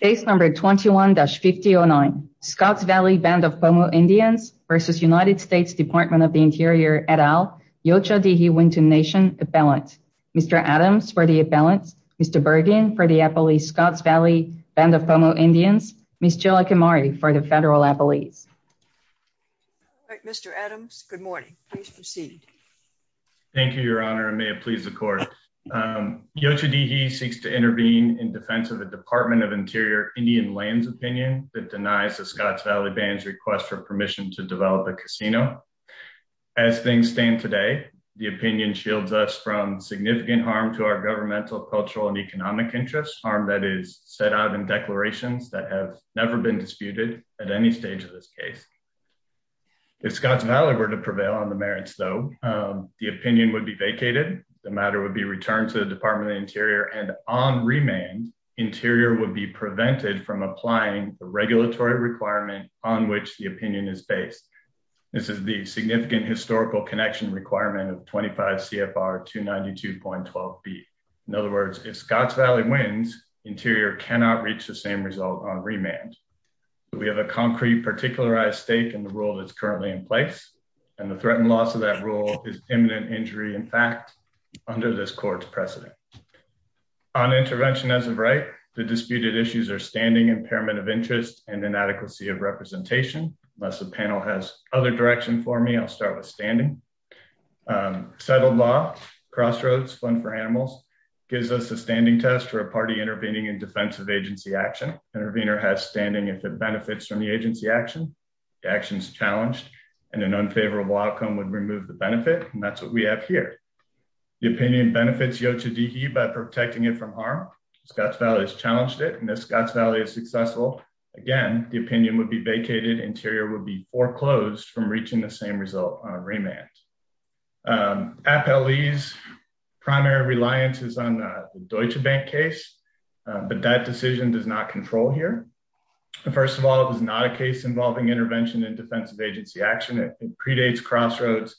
Base number 21-5009, Scotts Valley Band of Pomo Indians versus United States Department of the Interior, et al., Yocha Dehe Wynton Nation Appellant. Mr. Adams for the appellants, Mr. Bergen for the appellees, Scotts Valley Band of Pomo Indians, Ms. Jill Akimari for the federal appellees. Mr. Adams, good morning. Please proceed. Thank you, Your Honor, and may it please the Court. Yocha Dehe seeks to intervene in defense of the Department of Interior Indian lands opinion that denies the Scotts Valley Band's request for permission to develop a casino. As things stand today, the opinion shields us from significant harm to our governmental, cultural, and economic interests, harm that is set out in declarations that have never been disputed at any stage of this case. If Scotts Valley were to prevail on the merits, though, the opinion would be vacated. The matter would be returned to the Department of the Interior, and on remand, Interior would be prevented from applying the regulatory requirement on which the opinion is based. This is the significant historical connection requirement of 25 CFR 292.12b. In other words, if Scotts Valley wins, Interior cannot reach the same result on remand. We have a concrete particularized stake in the rule that's currently in place, and the threat and loss of that rule is imminent injury in fact. Under this court's precedent. On intervention as of right, the disputed issues are standing, impairment of interest, and inadequacy of representation. Unless the panel has other direction for me, I'll start with standing. Settled law, crossroads, fun for animals, gives us a standing test for a party intervening in defensive agency action. Intervener has standing if it benefits from the agency action. The action is challenged, and an unfavorable outcome would remove the benefit. And that's what we have here. The opinion benefits Yocha Dehe by protecting it from harm. Scotts Valley has challenged it, and if Scotts Valley is successful, again, the opinion would be vacated. Interior would be foreclosed from reaching the same result on remand. Appellee's primary reliance is on the Deutsche Bank case, but that decision does not control here. First of all, it is not a case involving intervention in defensive agency action. It predates crossroads,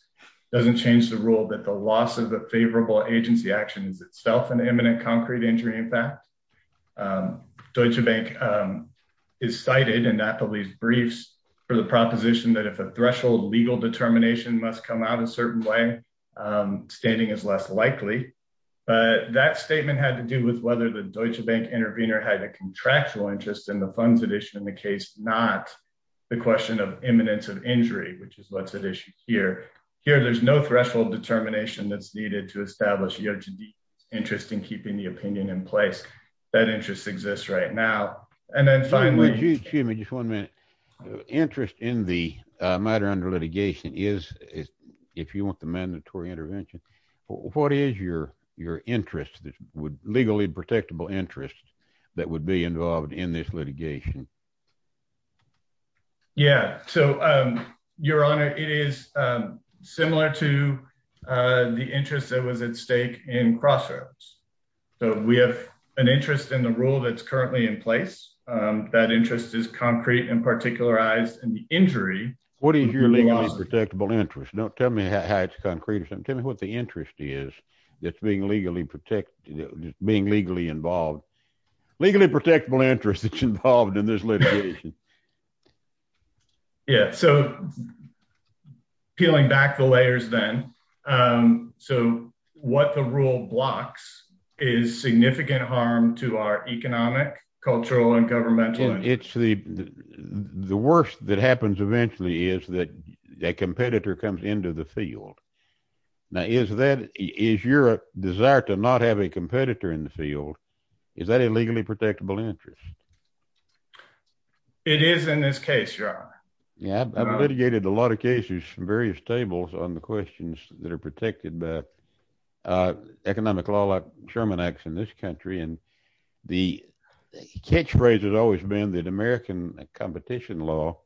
doesn't change the rule that the loss of a favorable agency action is itself an imminent concrete injury impact. Deutsche Bank is cited in Appellee's briefs for the proposition that if a threshold legal determination must come out a certain way, standing is less likely. But that statement had to do with whether the Deutsche Bank intervener had a contractual interest in the funds addition in the case, not the question of imminence of injury, which is what's at issue here. Here, there's no threshold determination that's needed to establish Yocha Dehe's interest in keeping the opinion in place. That interest exists right now. And then finally- Excuse me, just one minute. Interest in the matter under litigation is, if you want the mandatory intervention, what is your interest, legally protectable interest, that would be involved in this litigation? Yeah. So Your Honor, it is similar to the interest that was at stake in crossroads. So we have an interest in the rule that's currently in place. That interest is concrete and particularized in the injury. What is your legally protectable interest? Tell me how it's concrete. Tell me what the interest is that's being legally involved. Legally protectable interest that's involved in this litigation. Yeah. So peeling back the layers then, so what the rule blocks is significant harm to our economic, cultural, and governmental interests. The worst that happens eventually is that a competitor comes into the field. Now, is your desire to not have a competitor in the field, is that a legally protectable interest? It is in this case, Your Honor. Yeah, I've litigated a lot of cases from various tables on the questions that are protected by economic law like Sherman acts in this country. And the catchphrase has always been that American competition law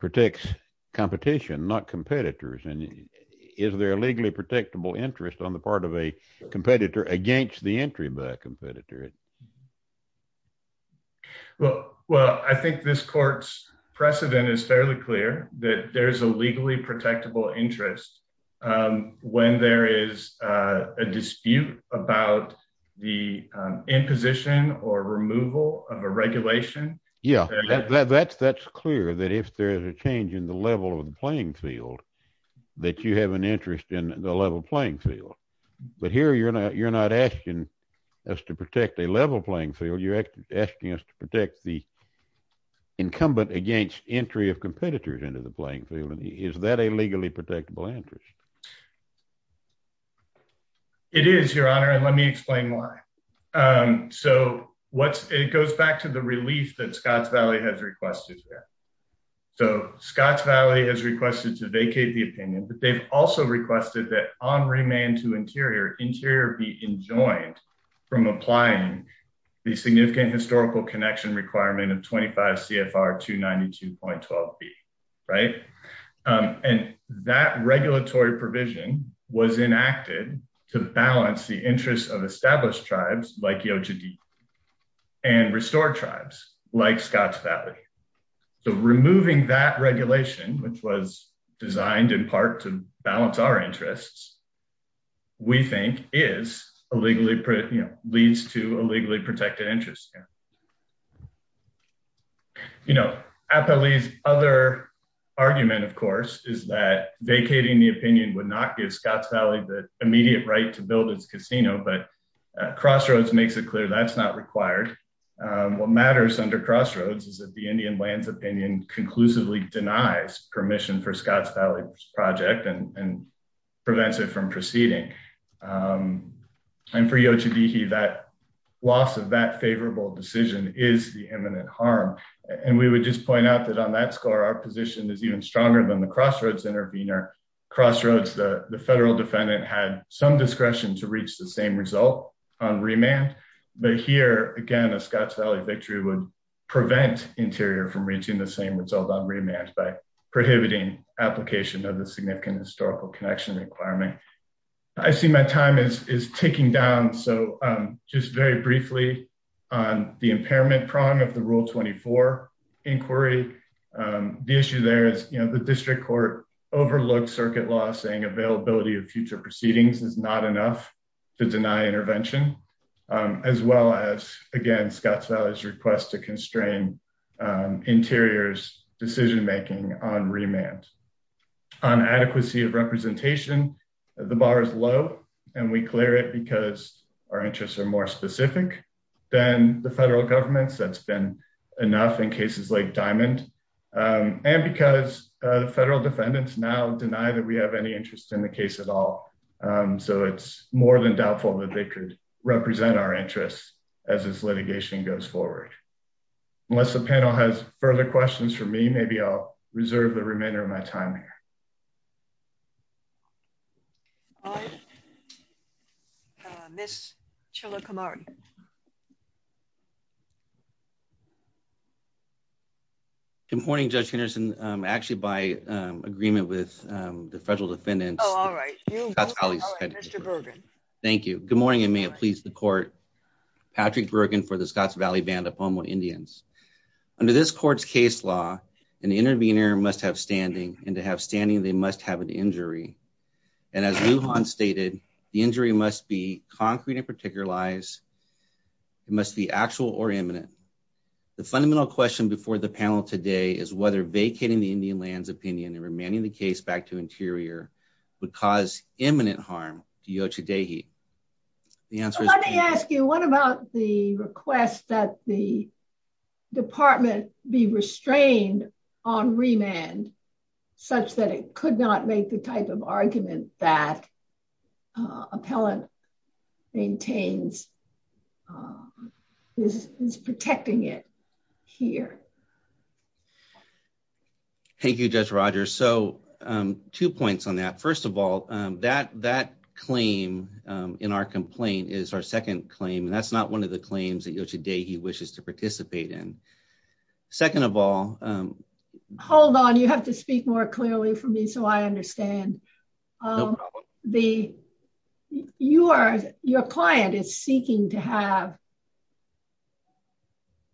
protects competition, not competitors. And is there a legally protectable interest on the part of a competitor against the entry by a competitor? Well, I think this court's precedent is fairly clear that there is a legally protectable interest when there is a dispute about the imposition or removal of a regulation. Yeah. That's clear that if there is a change in the level of the playing field that you have an interest in the level playing field. But here, you're not asking us to protect a level playing field. You're asking us to protect the incumbent against entry of competitors into the playing field. And is that a legally protectable interest? It is, Your Honor. And let me explain why. So it goes back to the relief that Scotts Valley has requested. So Scotts Valley has requested to vacate the opinion. But they've also requested that on remand to Interior, Interior be enjoined from applying the significant historical connection requirement of 25 CFR 292.12B. And that regulatory provision was enacted to balance the interests of established tribes like Yochadi and restore tribes like Scotts Valley. So removing that regulation, which was designed in part to balance our interests, we think leads to a legally protected interest here. You know, Apele's other argument, of course, is that vacating the opinion would not give Scotts Valley the immediate right to build its casino. But Crossroads makes it clear that's not required. What matters under Crossroads is that the Indian lands opinion conclusively denies permission for Scotts Valley's project and prevents it from proceeding. And for Yochadi, that loss of that favorable decision is the imminent harm. And we would just point out that on that score, our position is even stronger than the Crossroads intervener. Crossroads, the federal defendant, had some discretion to reach the same result on remand. But here, again, a Scotts Valley victory would prevent Interior from reaching the same result on remand by prohibiting application of the significant historical connection requirement. I see my time is ticking down. So just very briefly on the impairment prong of the Rule 24 inquiry. The issue there is the district court overlooked circuit law saying availability of future proceedings is not enough to deny intervention, as well as, again, Scotts Valley's request to constrain Interior's decision making on remand. On adequacy of representation, the bar is low, and we clear it because our interests are more specific than the federal government's. That's been enough in cases like Diamond. And because the federal defendants now deny that we have any interest in the case at all. So it's more than doubtful that they could represent our interests as this litigation goes forward. Unless the panel has further questions for me, maybe I'll reserve the remainder of my time here. All right. Ms. Chilakamari. Good morning, Judge Henderson. Actually, by agreement with the federal defendants. Oh, all right. All right, Mr. Bergen. Thank you. Good morning, and may it please the court. Patrick Bergen for the Scotts Valley Band of Pomo Indians. Under this court's case law, an intervener must have standing. And to have standing, they must have an injury. And as Lujan stated, the injury must be concrete and particularized. It must be actual or imminent. The fundamental question before the panel today is whether vacating the Indian land's opinion and remanding the case back to interior would cause imminent harm to Yocha Dehe. Let me ask you, what about the request that the department be restrained on remand such that it could not make the type of argument that appellant maintains is protecting it here? Thank you, Judge Rogers. So two points on that. First of all, that claim in our complaint is our second claim. And that's not one of the claims that Yocha Dehe wishes to participate in. Second of all, hold on. You have to speak more clearly for me so I understand. Your client is seeking to have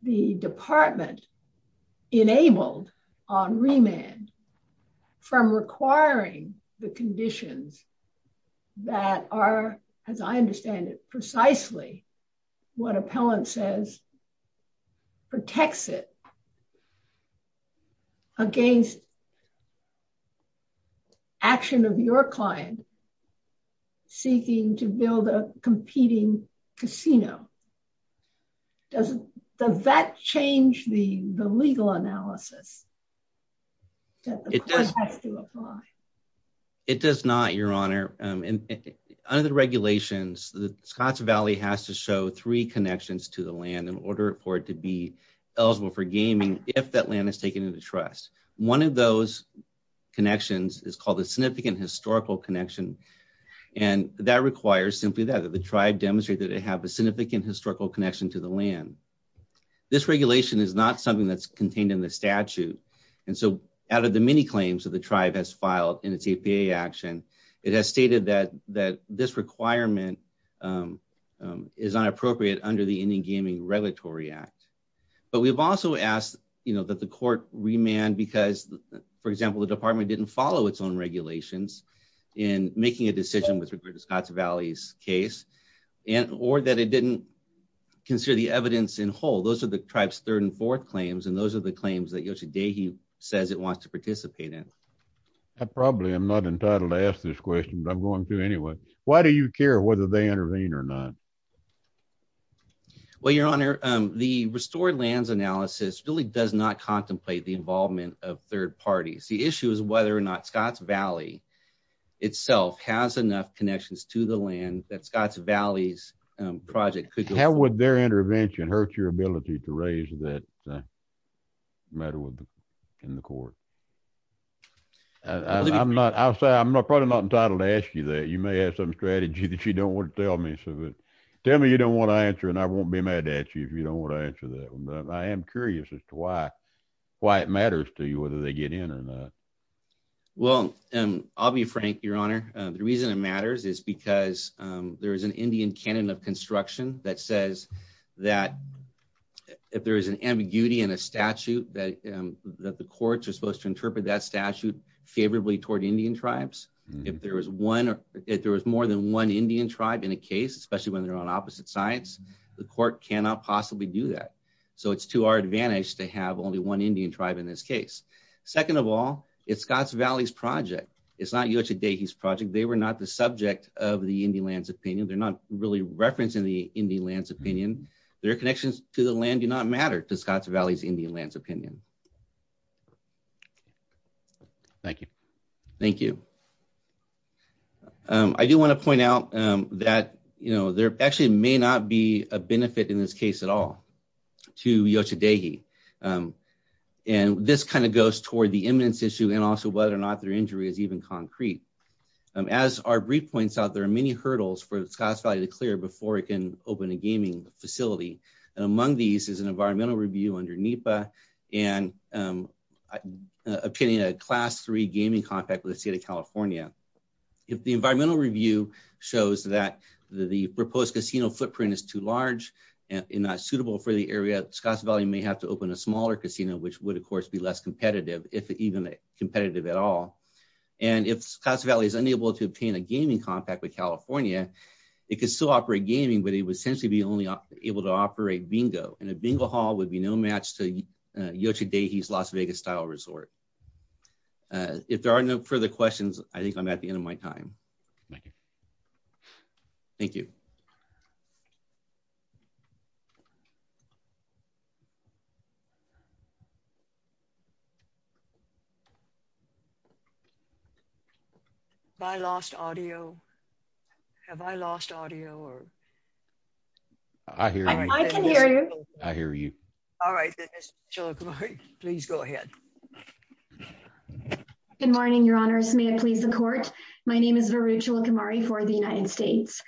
the department enabled on remand from requiring the conditions that are, as I understand it precisely, what appellant says protects it against action of your client seeking to build a competing casino. Does that change the legal analysis that the court has to apply? It does not, Your Honor. Under the regulations, the Scotts Valley has to show three connections to the land in order for it to be eligible for gaming if that land is taken into trust. One of those connections is called a significant historical connection. And that requires simply that the tribe demonstrate that it have a significant historical connection to the land. This regulation is not something that's contained in the statute. And so out of the many claims that the tribe has filed in its APA action, it has stated that this requirement is inappropriate under the Indian Gaming Regulatory Act. But we've also asked that the court remand because, for example, the department didn't follow its own regulations in making a decision with regard to Scotts Valley's case, or that it didn't consider the evidence in whole. Those are the tribe's third and fourth claims, and those are the claims that Yocha Dehe says it wants to participate in. I probably am not entitled to ask this question, but I'm going to anyway. Why do you care whether they intervene or not? Well, Your Honor, the restored lands analysis really does not contemplate the involvement of third parties. The issue is whether or not Scotts Valley itself has enough connections to the land that Scotts Valley's project could go forward. How would their intervention hurt your ability to raise that matter in the court? I'm probably not entitled to ask you that. You may have some strategy that you don't want to tell me. So tell me you don't want to answer, and I won't be mad at you if you don't want to answer that one. But I am curious as to why it matters to you, whether they get in or not. Well, I'll be frank, Your Honor. The reason it matters is because there is an Indian canon of construction that says that if there is an ambiguity in a statute that the courts are supposed to interpret that statute favorably toward Indian tribes, if there was more than one Indian tribe in a case, especially when they're on opposite sides, the court cannot possibly do that. So it's to our advantage to have only one Indian tribe in this case. Second of all, it's Scotts Valley's project. It's not Yocha Dehi's project. They were not the subject of the Indian land's opinion. They're not really referencing the Indian land's opinion. Their connections to the land do not matter to Scotts Valley's Indian land's opinion. Thank you. Thank you. I do want to point out that there actually may not be a benefit in this case at all to Yocha Dehi. And this kind of goes toward the eminence issue and also whether or not their injury is even concrete. As our brief points out, there are many hurdles for Scotts Valley to clear before it can open a gaming facility. And among these is an environmental review under NEPA and a class three gaming contract with the state of California. If the environmental review shows that the proposed casino footprint is too large and not suitable for the area, Scotts Valley may have to open a smaller casino, which would, of course, be less competitive, if even competitive at all. And if Scotts Valley is unable to obtain a gaming contract with California, it could still operate gaming, but it would essentially be only able to operate bingo. And a bingo hall would be no match to Yocha Dehi's Las Vegas-style resort. If there are no further questions, I think I'm at the end of my time. Thank you. Thank you. Thank you. Have I lost audio? Have I lost audio? I hear you. I can hear you. I hear you. All right. Ms. Cholokamari, please go ahead. Good morning, your honors. May it please the court. My name is Viru Cholokamari for the United States.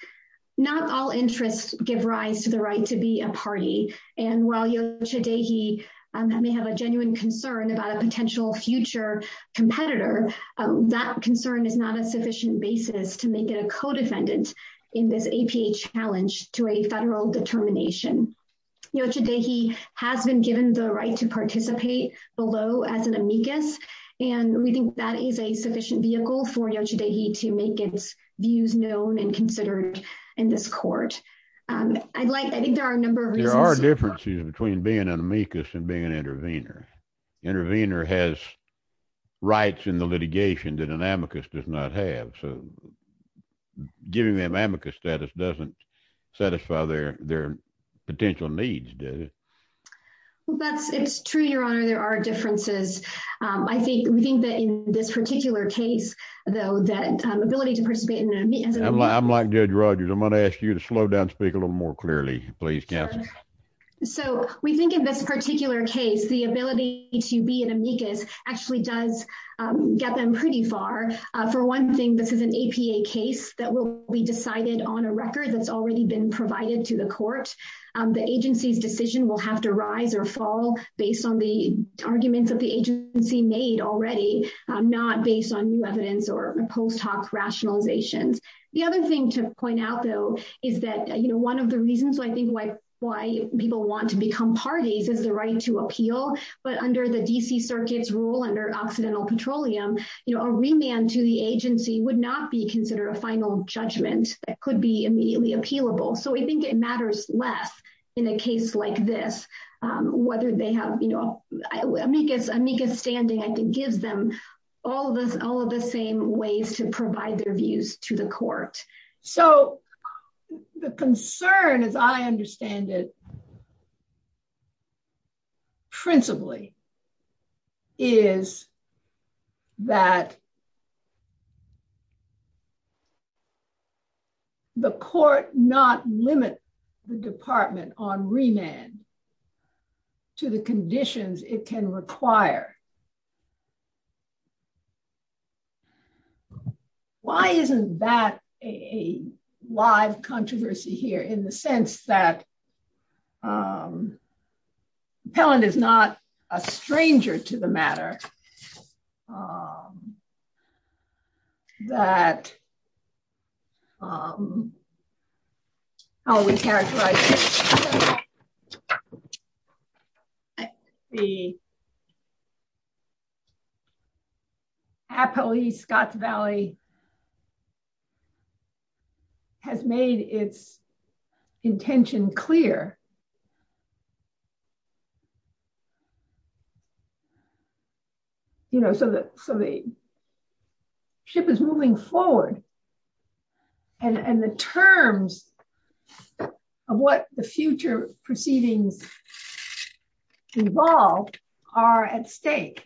Not all interests give rise to the right to be a party. And while Yocha Dehi may have a genuine concern about a potential future competitor, that concern is not a sufficient basis to make it a co-defendant in this APA challenge to a federal determination. Yocha Dehi has been given the right to participate below as an amicus, and we think that is a sufficient vehicle for Yocha Dehi to make its views known and considered in this court. I think there are a number of reasons. There are differences between being an amicus and being an intervener. Intervener has rights in the litigation that an amicus does not have. So giving them amicus status doesn't satisfy their potential needs, does it? It's true, your honor. There are differences. I think that in this particular case, though, that ability to participate in an amicus. I'm like Judge Rogers. I'm going to ask you to slow down, speak a little more clearly, please, counsel. So we think in this particular case, the ability to be an amicus actually does get them pretty far. For one thing, this is an APA case that will be decided on a record that's already been provided to the court. The agency's decision will have to rise or fall based on the arguments that the agency made already, not based on new evidence or post hoc rationalizations. The other thing to point out, though, is that one of the reasons I think why people want to become parties is the right to appeal. But under the DC Circuit's rule, under Occidental Petroleum, a remand to the agency would not be considered a final judgment that could be immediately appealable. So we think it matters less in a case like this, whether they have amicus. Amicus standing, I think, gives them all of the same ways to provide their views to the court. So the concern, as I understand it principally, is that the court not limit the department on remand to the conditions it can require. Why isn't that a live controversy here, in the sense that Pelland is not a stranger to the matter? I'm not sure that how we characterize it. The Applee-Scotts Valley has made its intention clear. So the ship is moving forward. And the terms of what the future proceedings involve are at stake.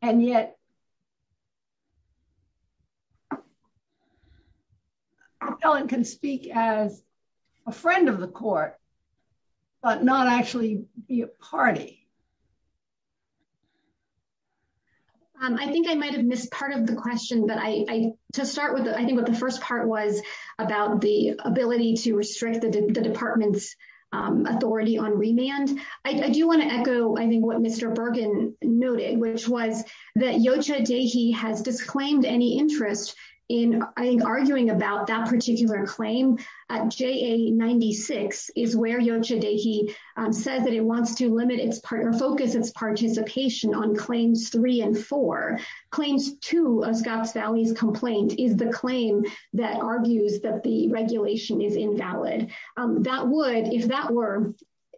And yet, Pelland can speak as a friend of the court, but not actually be a party. I think I might have missed part of the question. But to start with, I think what the first part was about the ability to restrict the department's authority on remand. I do want to echo, I think, what Mr. Bergen noted, which was that Yocha Dehi has disclaimed any interest in arguing about that particular claim. JA-96 is where Yocha Dehi says that it wants to focus its participation on claims 3 and 4. Claims 2 of Scotts Valley's complaint is the claim that argues that the regulation is invalid. That would,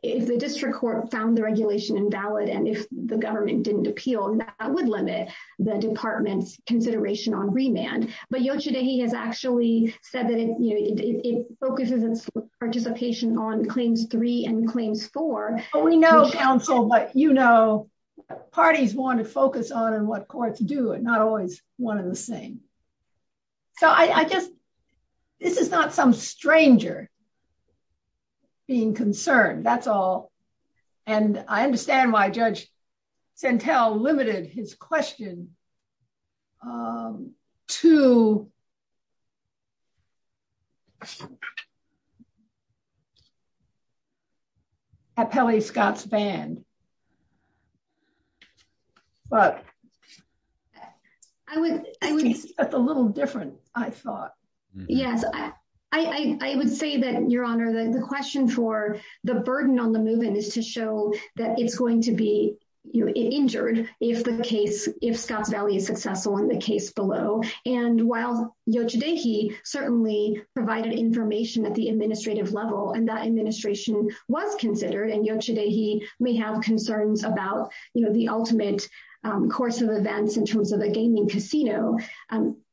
if the district court found the regulation invalid, and if the government didn't appeal, that would limit the department's consideration on remand. But Yocha Dehi has actually said that it focuses its participation on claims 3 and claims 4. We know, counsel, but you know what parties want to focus on and what courts do. It's not always one and the same. So I just, this is not some stranger being concerned. That's all. And I understand why Judge Santel limited his question to Appellee Scotts Band. But it's a little different, I thought. Yes, I would say that, Your Honor, the question for the burden on the movement is to show that it's going to be injured if the case, if Scotts Valley is successful in the case below. And while Yocha Dehi certainly provided information at the administrative level, and that administration was considered, and Yocha Dehi may have concerns about the ultimate course of events in terms of the gaming casino,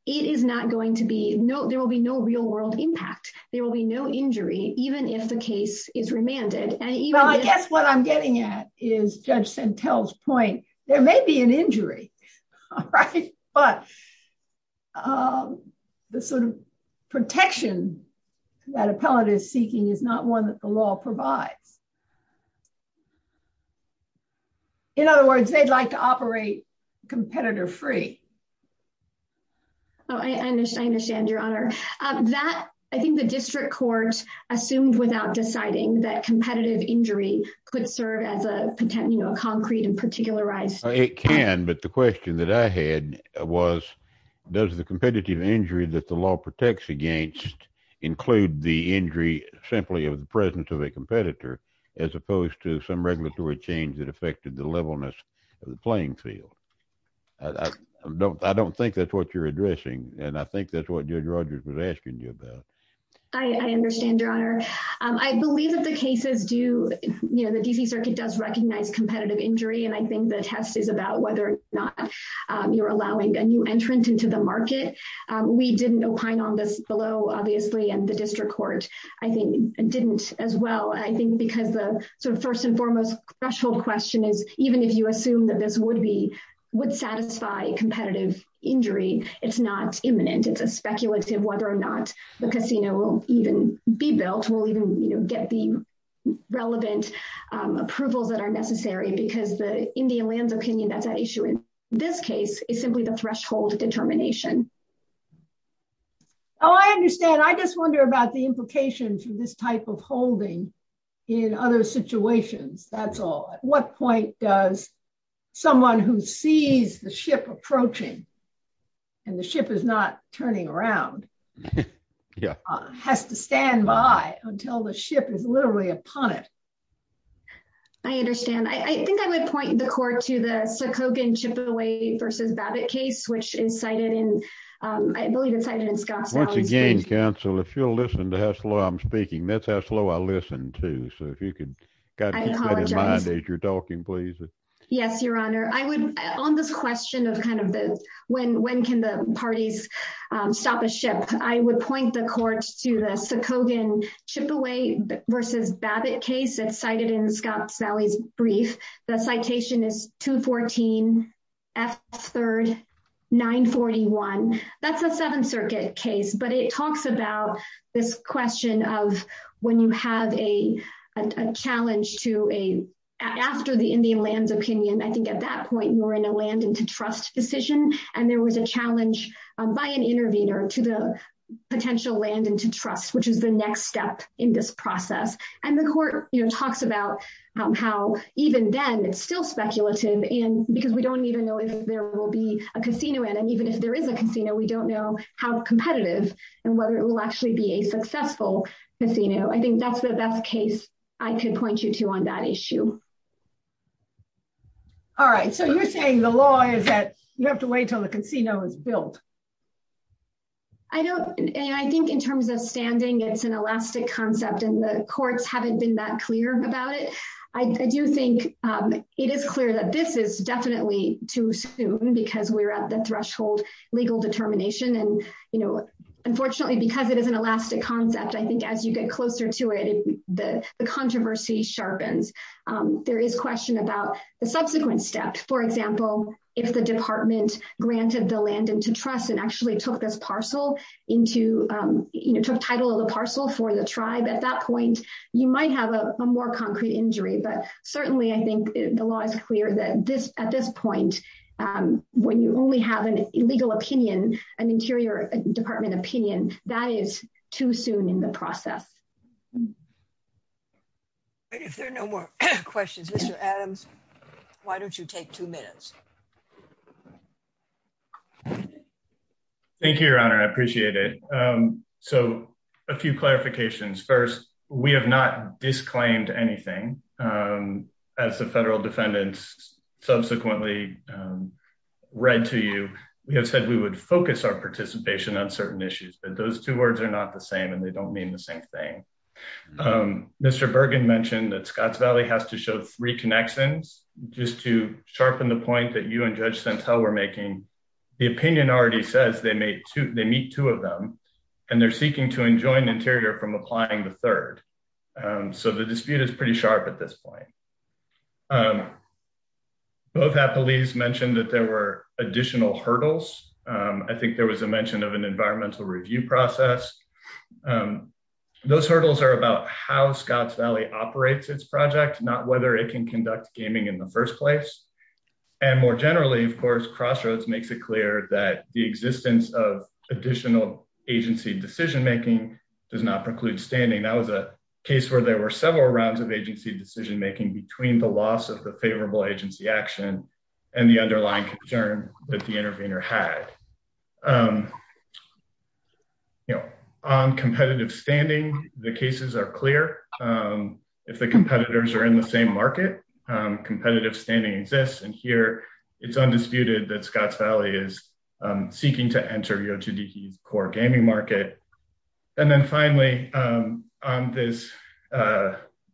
it is not going to be, there will be no real world impact. There will be no injury, even if the case is remanded. Well, I guess what I'm getting at is Judge Santel's point. There may be an injury, right? But the sort of protection that appellate is seeking is not one that the law provides. In other words, they'd like to operate competitor free. Oh, I understand, Your Honor. I think the district court assumed without deciding that competitive injury could serve as a concrete and particularized. It can, but the question that I had was, does the competitive injury that the law protects against include the injury simply of the presence of a competitor as opposed to some regulatory change that affected the levelness of the playing field? I don't think that's what you're addressing, and I think that's what Judge Rogers was asking you about. I understand, Your Honor. I believe that the cases do, you know, require competitive injury, and I think the test is about whether or not you're allowing a new entrant into the market. We didn't opine on this below, obviously, and the district court, I think, didn't as well. I think because the sort of first and foremost threshold question is even if you assume that this would be, would satisfy competitive injury, it's not imminent. It's a speculative whether or not the casino will even be built, will even, you know, get the relevant approvals that are necessary because the Indian lands opinion that's at issue in this case is simply the threshold determination. Oh, I understand. I just wonder about the implications of this type of holding in other situations. That's all. At what point does someone who sees the ship approaching and the ship is not turning around has to stand by until the ship is literally upon it? I understand. I think I would point the court to the Sikogin Chippewa versus Babbitt case, which is cited in, I believe it's cited in Scottsdale. Once again, counsel, if you'll listen to how slow I'm speaking, that's how slow I listen too. So if you could keep that in mind as you're talking, please. Yes, Your Honor. I would, on this question of kind of the, when can the parties stop a ship? I would point the court to the Sikogin Chippewa versus Babbitt case. It's cited in Scottsdale's brief. The citation is 214 F 3rd, 941. That's a seven circuit case, but it talks about this question of when you have a, a challenge to a, after the Indian lands opinion, I think at that point you were in a land and to trust decision. And there was a challenge by an intervener to the potential land and to trust, which is the next step in this process. And the court talks about how even then it's still speculative. And because we don't even know if there will be a casino in, and even if there is a casino, we don't know how competitive and whether it will actually be a successful casino. I think that's the best case I can point you to on that issue. All right. So you're saying the law is that you have to wait until the casino is built. I don't. And I think in terms of standing, it's an elastic concept. And the courts haven't been that clear about it. I do think it is clear that this is definitely too soon because we're at the threshold legal determination. And, you know, unfortunately because it is an elastic concept, I think, as you get closer to it, the controversy sharpens. I think it's fair to say that the law is clear that it's not necessarily the case. That you have to wait until the casino is built. And there is a question about the subsequent step. For example, if the department granted the land and to trust and actually took this parcel. Into, you know, took title of the parcel for the tribe. At that point, you might have a more concrete injury, but certainly I think the law is clear that this, at this point, When you only have an illegal opinion. An interior department opinion that is too soon in the process. I think that's fair to say. I think that's fair to say. If there are no more questions, Mr. Adams. Why don't you take two minutes? Thank you, your honor. I appreciate it. So a few clarifications first. We have not disclaimed anything. As the federal defendants subsequently. We have said we would focus our participation on certain issues, but those two words are not the same and they don't mean the same thing. Mr. Bergen mentioned that Scott's valley has to show three connections. Just to sharpen the point that you and judge. How we're making. The opinion already says they made two. They meet two of them. And they're seeking to enjoin interior from applying the third. So the dispute is pretty sharp at this point. I think there was a mention of an environmental review process. Those hurdles are about how Scott's valley operates its project, not whether it can conduct gaming in the first place. And more generally, of course, crossroads makes it clear that the existence of additional agency decision-making. Does not preclude standing that was a case where there were several rounds of agency decision-making between the loss of the favorable agency action. And the underlying concern that the intervener had. You know, on competitive standing, the cases are clear. If the competitors are in the same market. Competitive standing exists. And here. It's undisputed that Scott's valley is. And, you know, there's a lot of evidence to support that. Seeking to enter. Core gaming market. And then finally. On this.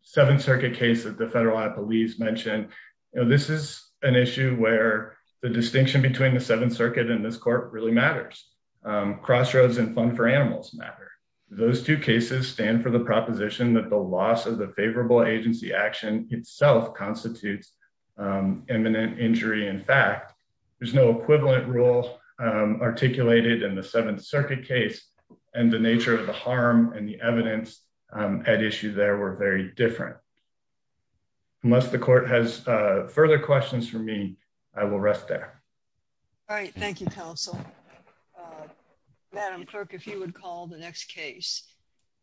Seventh circuit case that the federal police mentioned. You know, this is an issue where the distinction between the seventh circuit and this court really matters. Crossroads and fun for animals. Those two cases stand for the proposition that the loss of the favorable agency action itself constitutes. Eminent injury. In fact, there's no equivalent rule. Articulated in the seventh circuit case. And the nature of the harm and the evidence. At issue there were very different. Unless the court has further questions for me. I will rest there. All right. Thank you. Thank you. Thank you. Thank you. Madam clerk, if you would call the next case.